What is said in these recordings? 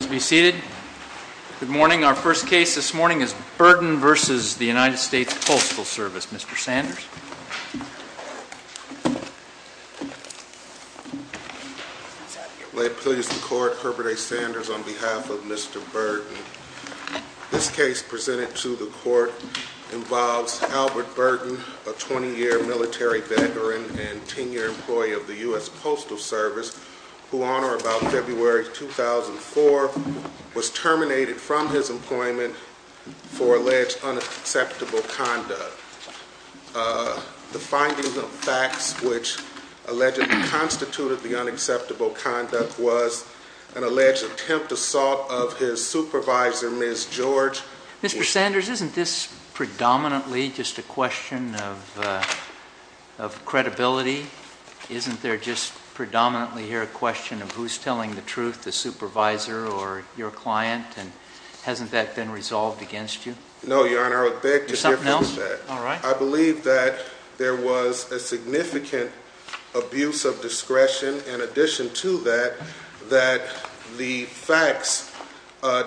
Please be seated. Good morning. Our first case this morning is Burden v. USPS, Mr. Sanders. May it please the court, Herbert A. Sanders on behalf of Mr. Burden. This case presented to the court involves Albert Burden, a 20-year military veteran and 10-year employee of the terminated from his employment for alleged unacceptable conduct. The findings of facts which allegedly constituted the unacceptable conduct was an alleged attempt assault of his supervisor, Ms. George. Mr. Sanders, isn't this predominantly just a question of credibility? Isn't there just predominantly here a question of who's telling the truth, the supervisor or your client? And hasn't that been resolved against you? No, Your Honor. I would beg to differ with that. I believe that there was a significant abuse of discretion in addition to that, that the facts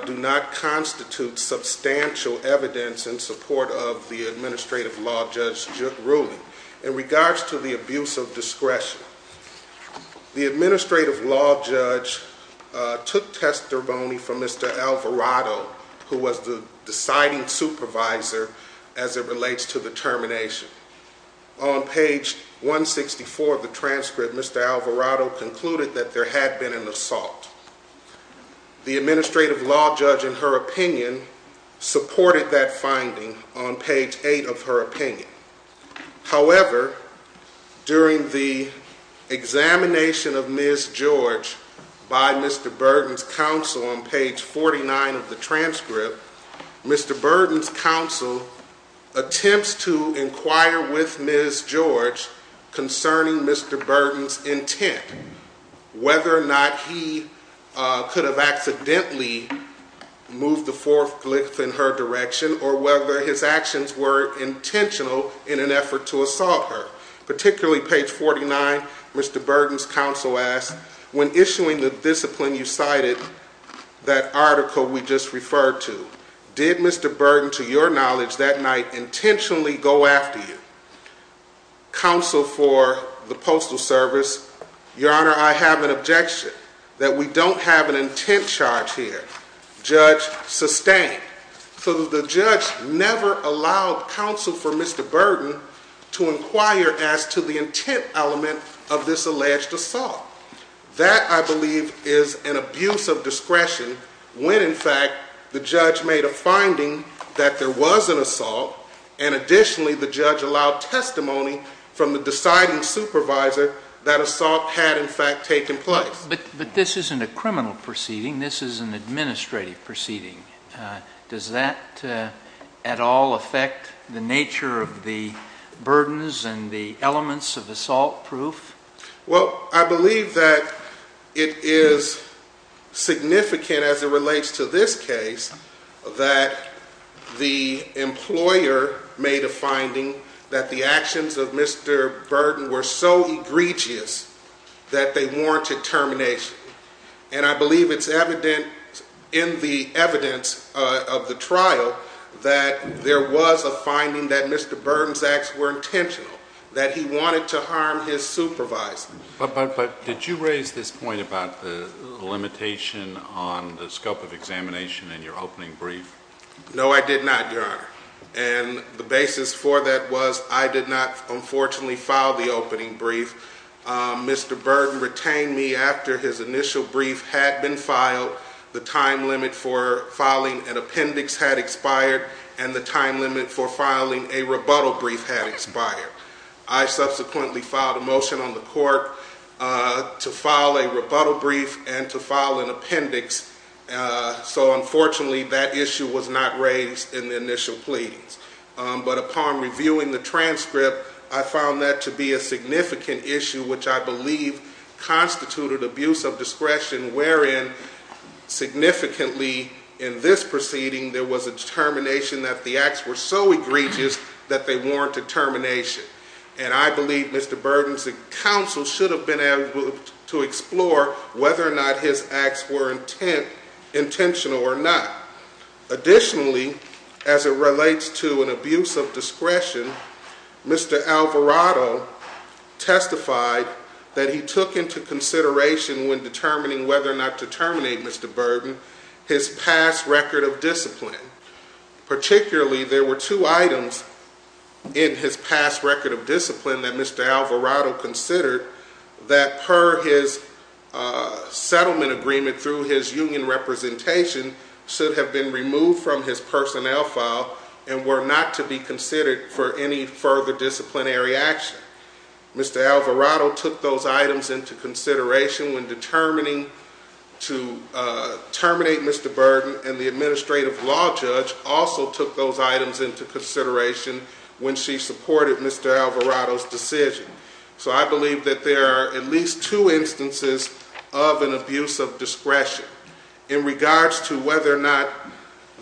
do not constitute substantial evidence in support of the administrative law judge's ruling in regards to the abuse of discretion. The administrative law judge took testimony from Mr. Alvarado, who was the deciding supervisor as it relates to the termination. On page 164 of the transcript, Mr. Alvarado concluded that there had been an assault. The administrative law judge in her opinion supported that finding on page 8 of her opinion. However, during the examination of Ms. George by Mr. Burden's counsel on page 49 of the transcript, Mr. Burden's counsel attempts to inquire with Ms. George concerning Mr. Burden's intent, whether or not he could have accidentally moved the forklift in her direction, or whether his actions were intentional in an effort to assault her. Particularly page 49, Mr. Burden's counsel asks, when issuing the discipline you cited, that article we just referred to, did Mr. Burden to your knowledge that night intentionally go after you? Counsel for the honor, I have an objection that we don't have an intent charge here. Judge sustained. So the judge never allowed counsel for Mr. Burden to inquire as to the intent element of this alleged assault. That, I believe, is an abuse of discretion when in fact the judge made a finding that there was an assault, and additionally the judge allowed testimony from the deciding supervisor that assault had in fact taken place. But this isn't a criminal proceeding, this is an administrative proceeding. Does that at all affect the nature of the burdens and the elements of assault proof? Well, I believe that it is significant as it relates to this case that the employer made a finding that the actions of Mr. Burden were so intent and so egregious that they warranted termination. And I believe it's evident in the evidence of the trial that there was a finding that Mr. Burden's acts were intentional, that he wanted to harm his supervisor. But did you raise this point about the limitation on the scope of examination in your opening brief? No, I did not, your honor. And the basis for that was I did not, unfortunately, file the opening brief. Mr. Burden retained me after his initial brief had been filed, the time limit for filing an appendix had expired, and the time limit for filing a rebuttal brief had expired. I subsequently filed a motion on the court to file a rebuttal brief and to file an appendix, so unfortunately that issue was not raised in the initial pleadings. But upon reviewing the transcript, I found that to be a significant issue which I believe constituted abuse of discretion wherein significantly in this proceeding there was a determination that the acts were so egregious that they warranted termination. And I believe Mr. Burden's counsel should have been able to explore whether or not his acts were intentional or not. Additionally, as it relates to an abuse of discretion, Mr. Alvarado testified that he took into consideration when determining whether or not to terminate Mr. Burden his past record of discipline. Particularly, there were two items in his past record of discipline that Mr. Alvarado considered that per his sentence and that the settlement agreement through his union representation should have been removed from his personnel file and were not to be considered for any further disciplinary action. Mr. Alvarado took those items into consideration when determining to terminate Mr. Burden, and the Administrative Law Judge also took those items into consideration when she supported Mr. Alvarado's decision. So I believe that there are at least two instances of an abuse of discretion. In regards to whether or not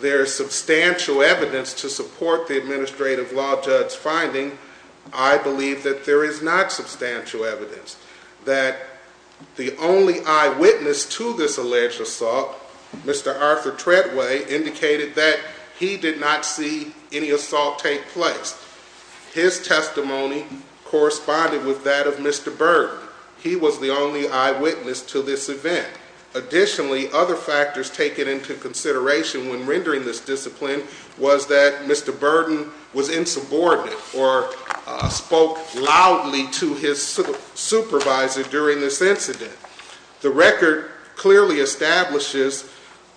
there is substantial evidence to support the Administrative Law Judge's finding, I believe that there is not substantial evidence. That the only eyewitness to this alleged assault, Mr. Arthur Treadway, indicated that he did not see any assault take place. His testimony corresponded with that of Mr. Burden. He was the only eyewitness to this event. Additionally, other factors taken into consideration when rendering this discipline was that Mr. Burden was insubordinate or spoke loudly to his supervisor during this incident. The record clearly establishes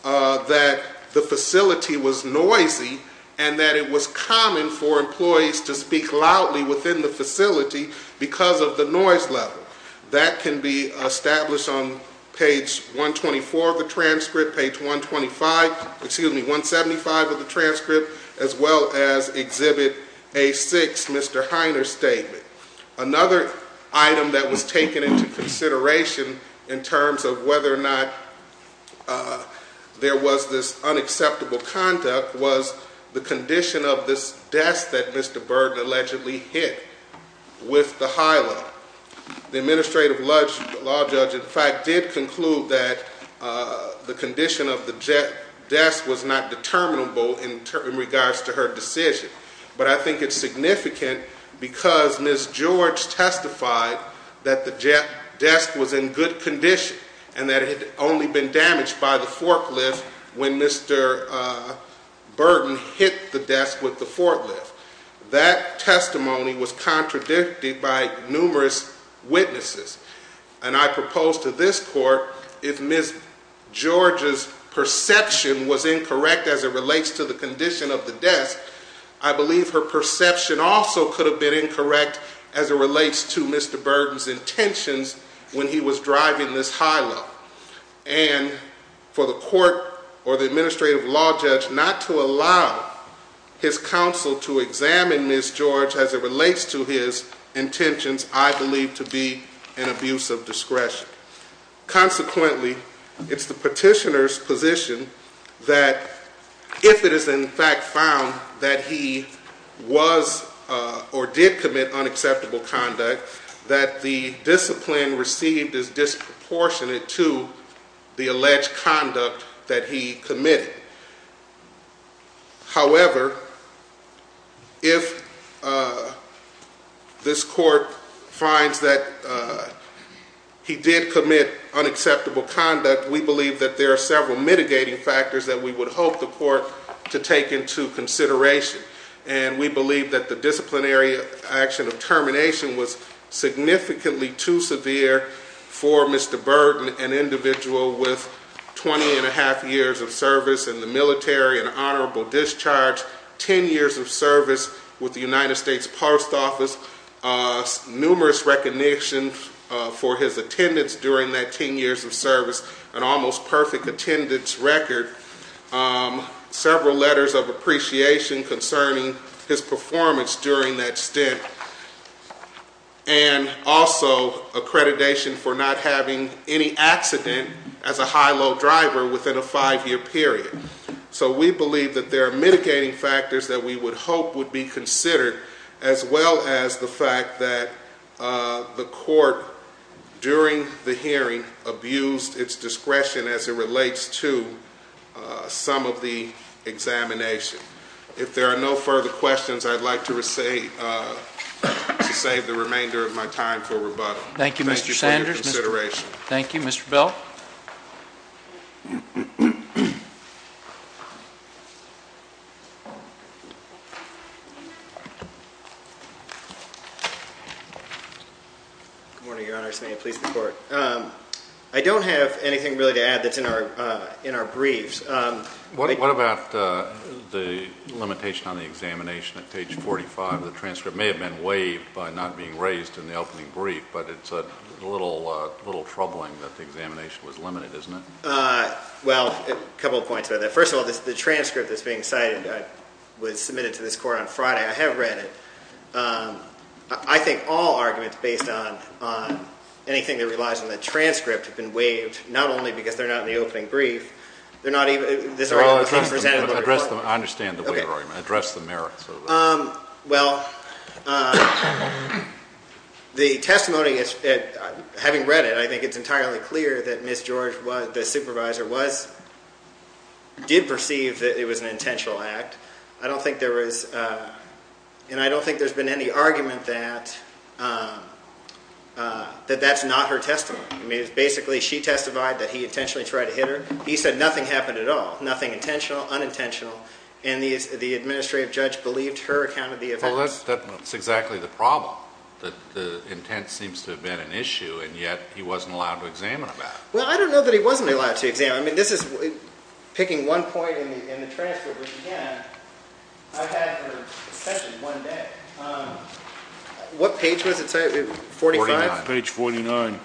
that the facility was noisy and that it was common for employees to speak loudly within the facility because of the noise level. That can be established on page 124 of the transcript, page 125, excuse me, 175 of the transcript, as well as exhibit A6, Mr. Heiner's statement. Another item that was taken into consideration in terms of whether or not there was this unacceptable conduct was the condition of this desk that Mr. Burden allegedly hit with the high level. The Administrative Law Judge in fact did conclude that the condition of the desk was not determinable in regards to her decision. But I think it's significant because Ms. George testified that the desk was in good condition and that it had only been damaged by the forklift when Mr. Burden hit the desk with the forklift. That testimony was contradicted by numerous witnesses. And I propose to this Court if Ms. George's perception was incorrect as it relates to the condition of the desk, I believe her perception also could have been incorrect as it relates to Mr. Burden's intentions when he was driving this high level. And for the Court or the District to allow his counsel to examine Ms. George as it relates to his intentions, I believe to be an abuse of discretion. Consequently, it's the petitioner's position that if it is in fact found that he was or did commit unacceptable conduct, that the discipline received is disproportionate to the alleged conduct that he committed. However, if this Court finds that he did commit unacceptable conduct, we believe that there are several mitigating factors that we would hope the Court to take into consideration. And we believe that the disciplinary action of termination was significantly too severe for Mr. Burden, an individual with 20 and a half years of service in the military and honorable discharge, 10 years of service with the United States Post Office, numerous recognition for his attendance during that 10 years of service, an almost perfect attendance record, several letters of appreciation concerning his performance during that stint, and also accreditation for not having any accident as a high-low driver within a five-year period. So we believe that there are mitigating factors that we would hope would be considered, as well as the fact that the Court, during the hearing, abused its discretion as it relates to some of the examination. If there are no further questions, I'd like to save the remainder of my time for rebuttal. Thank you for your consideration. Thank you. Mr. Bell? Good morning, Your Honors. May I please record? I don't have anything really to add that's in our briefs. What about the limitation on the examination at page 45? The transcript may have been waived by not being raised in the opening brief, but it's a little troubling that the examination was limited, isn't it? Well, a couple of points about that. First of all, the transcript that's being cited was submitted to this Court on Friday. I have read it. I think all arguments based on anything that relies on the transcript have been waived, not only because they're not in the opening brief, they're not even... I understand the waiver argument. Address the merits of it. Well, the testimony, having read it, I think it's entirely clear that Ms. George, the supervisor, did perceive that it was an intentional act. I don't think there was... and I don't think there's been any argument that that's not her testimony. Basically, she testified that he intentionally tried to hit her. He said nothing happened at all, nothing intentional, unintentional, and the administrative judge believed her account of the event. Well, that's exactly the problem, that the intent seems to have been an issue, and yet he wasn't allowed to examine it. Well, I don't know that he wasn't allowed to examine it. I mean, this is... picking one point in the transcript, which again, I've had for especially one day. What page was it cited? Page 49. Page 49.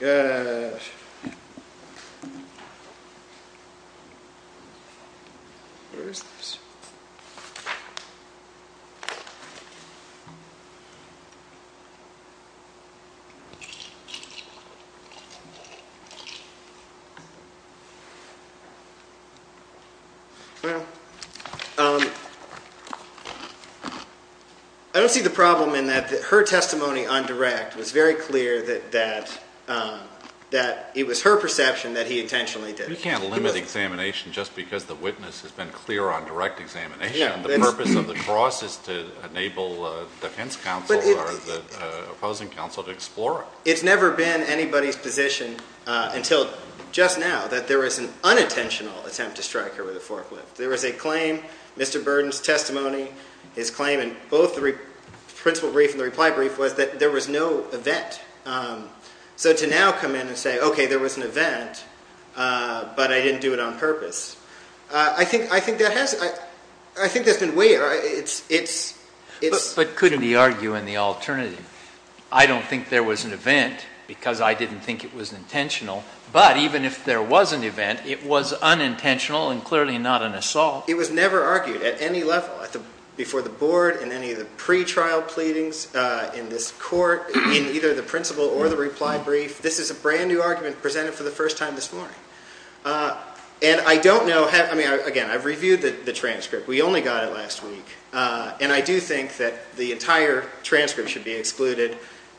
Gosh. Where is this? Well, I don't see the problem in that. I don't see the problem in the fact that it's not her testimony. Her testimony on direct was very clear that it was her perception that he intentionally did it. You can't limit examination just because the witness has been clear on direct examination. The purpose of the cross is to enable defense counsel or the opposing counsel to explore it. It's never been anybody's position until just now that there was an unintentional attempt to strike her with a forklift. There was a claim, Mr. Burden's testimony, his claim in both the principle brief and the reply brief was that there was no event. So to now come in and say, okay, there was an event, but I didn't do it on purpose. I think there has... I think there's been way... But couldn't he argue in the alternative? I don't think there was an event because I didn't think it was intentional, but even if there was an event, it was unintentional and clearly not an assault. It was never argued at any level before the board and any of the pretrial pleadings in this court, in either the principle or the reply brief. This is a brand new argument presented for the first time this morning. And I don't know how... I mean, again, I've reviewed the transcript. We only got it last week. And I do think that the entire transcript should be excluded.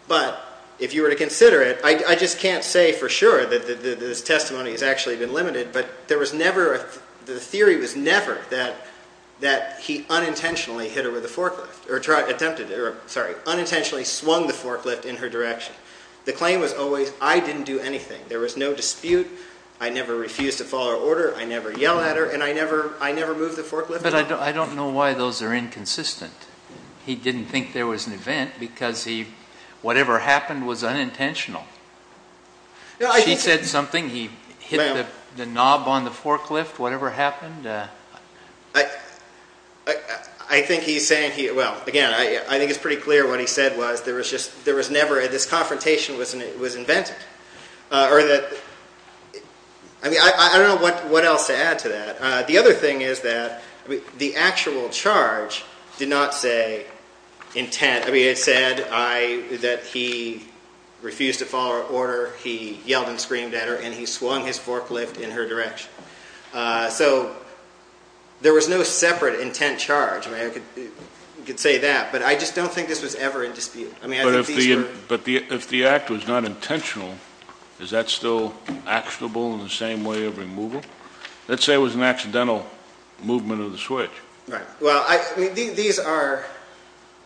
But if you were to consider it, I just can't say for sure that this testimony has actually been limited, but there was never... The theory was never that he unintentionally hit her with a forklift or attempted... Or sorry, unintentionally swung the forklift in her direction. The claim was always, I didn't do anything. There was no dispute. I never refused to follow order. I never yell at her and I never moved the forklift. But I don't know why those are inconsistent. He didn't think there was an event because he... Whatever happened was unintentional. She said something, he hit the knob on the door. Whatever happened... I think he's saying he... Well, again, I think it's pretty clear what he said was there was just... There was never... This confrontation was invented. Or that... I mean, I don't know what else to add to that. The other thing is that the actual charge did not say intent. I mean, it said that he refused to follow order. He yelled and screamed at her and he So there was no separate intent charge. I mean, I could say that, but I just don't think this was ever in dispute. I mean, I think these were... But if the act was not intentional, is that still actionable in the same way of removal? Let's say it was an accidental movement of the switch. Right. Well, I mean, these are...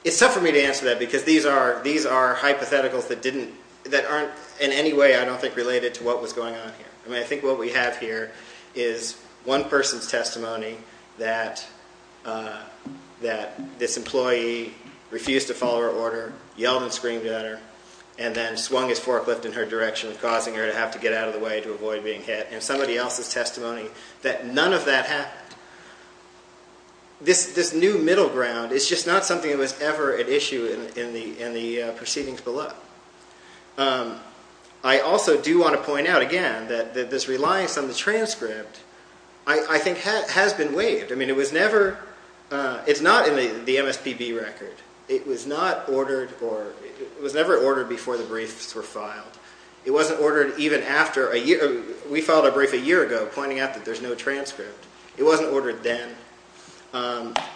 It's tough for me to answer that because these are hypotheticals that didn't... That aren't in any way, I don't think, related to what was going on here. I mean, I think what we have here is one person's testimony that this employee refused to follow her order, yelled and screamed at her, and then swung his forklift in her direction, causing her to have to get out of the way to avoid being hit, and somebody else's testimony that none of that happened. This new middle ground is just not something that was ever at issue in the proceedings below. I also do want to point out, again, that this reliance on the transcript, I think, has been waived. I mean, it was never... It's not in the MSPB record. It was not ordered or... It was never ordered before the briefs were filed. It wasn't ordered even after a year... We filed a brief a year ago pointing out that there's no transcript. It wasn't ordered then.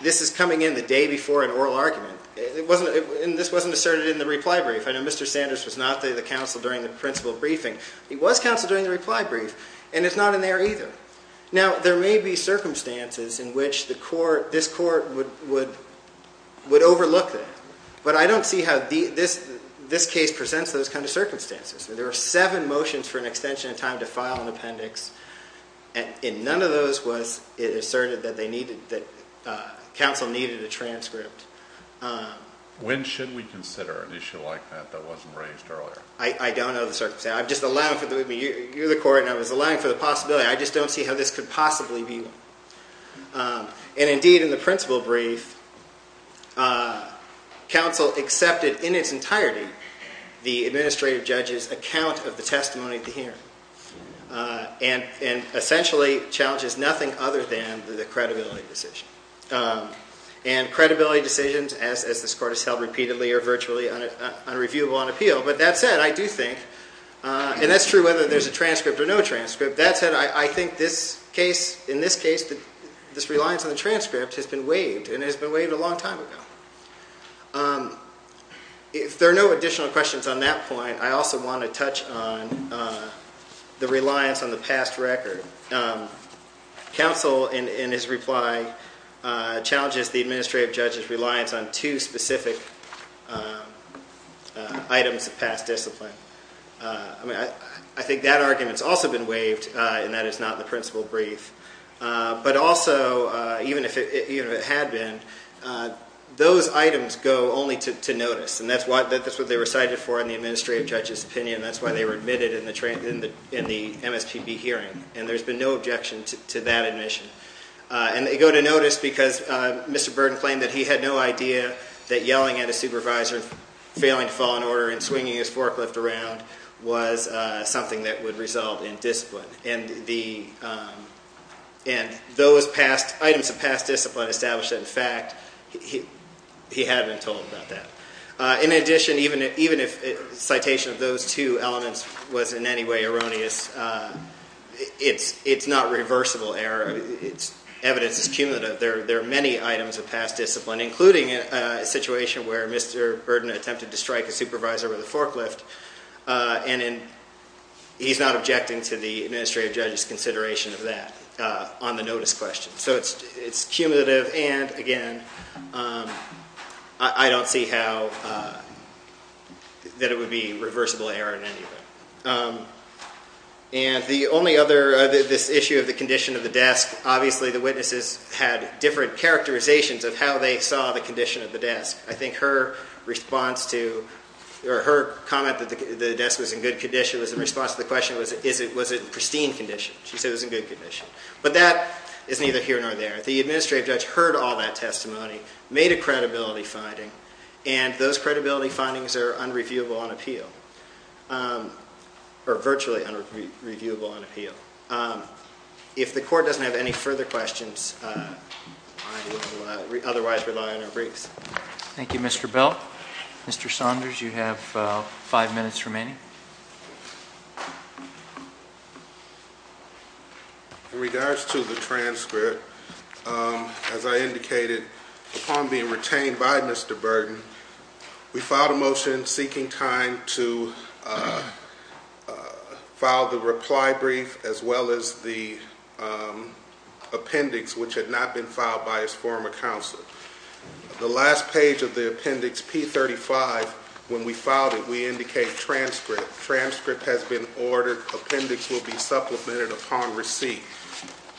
This is coming in the day before an oral argument. It wasn't... And this wasn't asserted in the reply brief. I know Mr. Sanders was not the counsel during the principal briefing. He was counsel during the reply brief, and it's not in there either. Now, there may be circumstances in which the court... This court would overlook that, but I don't see how this case presents those kind of circumstances. There are seven motions for an extension of time to file an appendix, and in none of those was it asserted that they needed... That counsel needed a transcript. When should we consider an issue like that that wasn't raised earlier? I don't know the circumstances. I'm just allowing for... You're the court, and I was allowing for the possibility. I just don't see how this could possibly be. And indeed, in the principal brief, counsel accepted in its entirety the administrative judge's account of the testimony at the hearing, and essentially challenges nothing other than the credibility decision. And credibility decisions, as this court has held repeatedly, are virtually unreviewable on appeal. But that said, I do think... And that's true whether there's a transcript or no transcript. That said, I think this case, in this case, this reliance on the transcript has been waived, and it has been waived a long time ago. If there are no additional questions on that point, I also want to touch on the reliance on the past record. Counsel, in his reply, challenges the administrative judge's reliance on two specific items of past discipline. I mean, I think that argument's also been waived, and that is not the principal brief. But also, even if it had been, those items go only to notice, and that's what they were cited for in the administrative judge's opinion. That's why they were admitted in the MSPB hearing, and there's been no objection to that admission. And they go to notice because Mr. Burden claimed that he had no idea that yelling at a supervisor, failing to follow an order, and swinging his forklift around was something that would result in discipline. And those items of past discipline established that, in fact, he had been told about that. In addition, even if citation of those two elements was in any way erroneous, it's not reversible error. Evidence is cumulative. There are many items of past discipline, including a situation where Mr. Burden attempted to strike a supervisor with a forklift, and he's not objecting to the administrative judge's consideration of that on the notice question. So it's cumulative, and again, I don't see how that it would be reversible error in any of it. And the only other, this issue of the condition of the desk, obviously the witnesses had different characterizations of how they saw the condition of the desk. I think her response to, or her comment that the desk was in good condition was in response to the question was, was it pristine condition? She said it was in good condition. But that is neither here nor there. The administrative judge heard all that testimony, made a credibility finding, and those credibility findings are unreviewable on appeal, or virtually unreviewable on appeal. If the court doesn't have any further questions, I will otherwise rely on our briefs. Thank you, Mr. Belt. Mr. Saunders, you have five minutes remaining. In regards to the transcript, as I indicated, upon being retained by Mr. Burden, we filed a motion seeking time to file the reply brief, as well as the appendix, which had not been filed by his former counsel. The last page of the appendix, P35, when we filed it, we indicate transcript. Transcript has been ordered. Appendix will be supplemented upon receipt.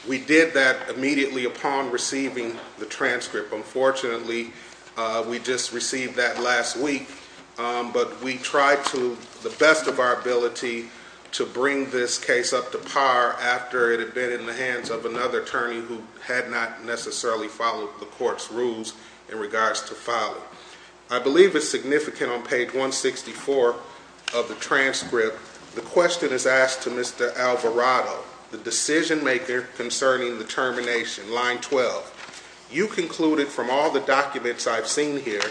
We did that immediately upon receiving the transcript. Unfortunately, we just received that last week, but we tried to the best of our ability to bring this case up to par after it had been in the hands of another attorney who had not necessarily followed the court's rules in regards to filing. I believe it's significant on page 164 of the transcript. The question is asked to Mr. Alvarado, the decision maker concerning the termination, line 12. You concluded from all the documents I've seen here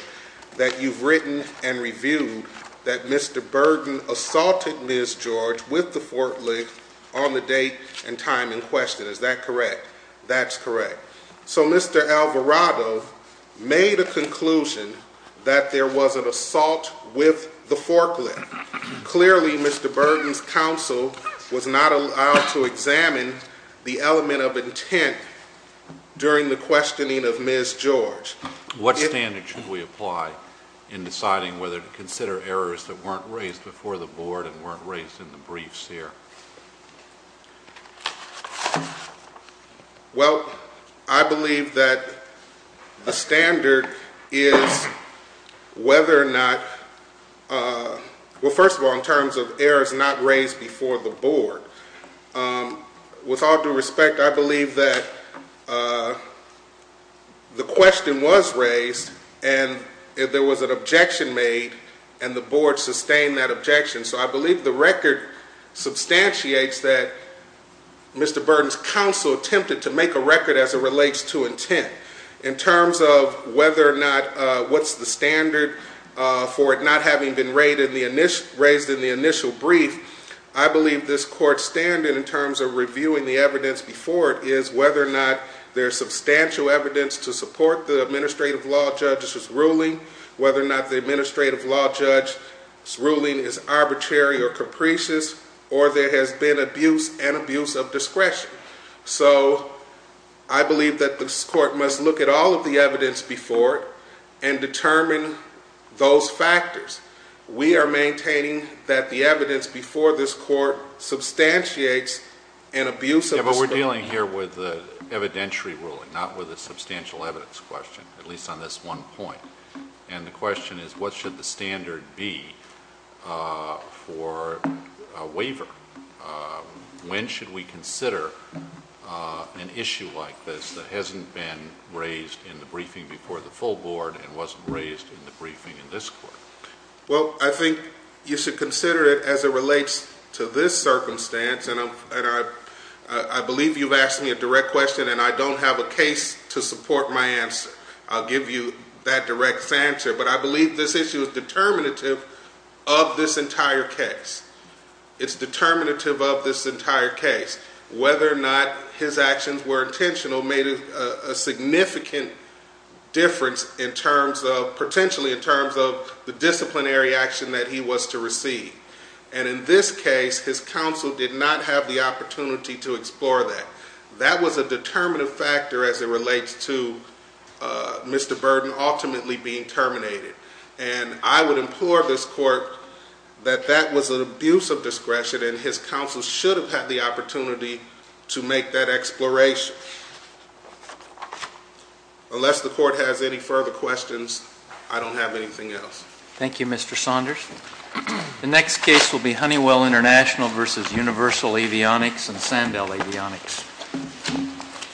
that you've written and reviewed that Mr. Burden assaulted Ms. George with the forklift on the date and time in question. Is that correct? That's correct. So Mr. Alvarado made a conclusion that there was an assault with the forklift. Clearly, Mr. Burden's counsel was not allowed to examine the element of intent during the questioning of Ms. George. What standard should we apply in deciding whether to consider errors that weren't raised before the board and weren't raised in the briefs here? Well, I believe that a standard is whether or not, well, first of all in terms of errors not raised before the board, with all due respect, I believe that the question was raised and there was an objection made and the board sustained that objection. So I believe the record substantiates that Mr. Burden's counsel attempted to make a record as it relates to intent. In terms of whether or not, what's the standard for it not having been raised in the initial brief, I believe this court in terms of reviewing the evidence before it is whether or not there's substantial evidence to support the administrative law judge's ruling, whether or not the administrative law judge's ruling is arbitrary or capricious, or there has been abuse and abuse of discretion. So I believe that this court must look at all of the evidence before it and determine those factors. We are maintaining that the evidence before this court substantiates an abuse of discretion. But we're dealing here with the evidentiary ruling, not with a substantial evidence question, at least on this one point. And the question is what should the standard be for a waiver? When should we consider an issue like this that hasn't been raised in the briefing before the court? Well, I think you should consider it as it relates to this circumstance. And I believe you've asked me a direct question and I don't have a case to support my answer. I'll give you that direct answer. But I believe this issue is determinative of this entire case. It's determinative of this entire case. Whether or not his actions were intentional made a significant difference potentially in terms of the disciplinary action that he was to receive. And in this case, his counsel did not have the opportunity to explore that. That was a determinative factor as it relates to Mr. Burden ultimately being terminated. And I would implore this court that that was an abuse of discretion and his counsel should have had the opportunity to make that exploration. Unless the court has any further questions, I don't have anything else. Thank you, Mr. Saunders. The next case will be Honeywell International v. Universal Avionics and Sandell Avionics.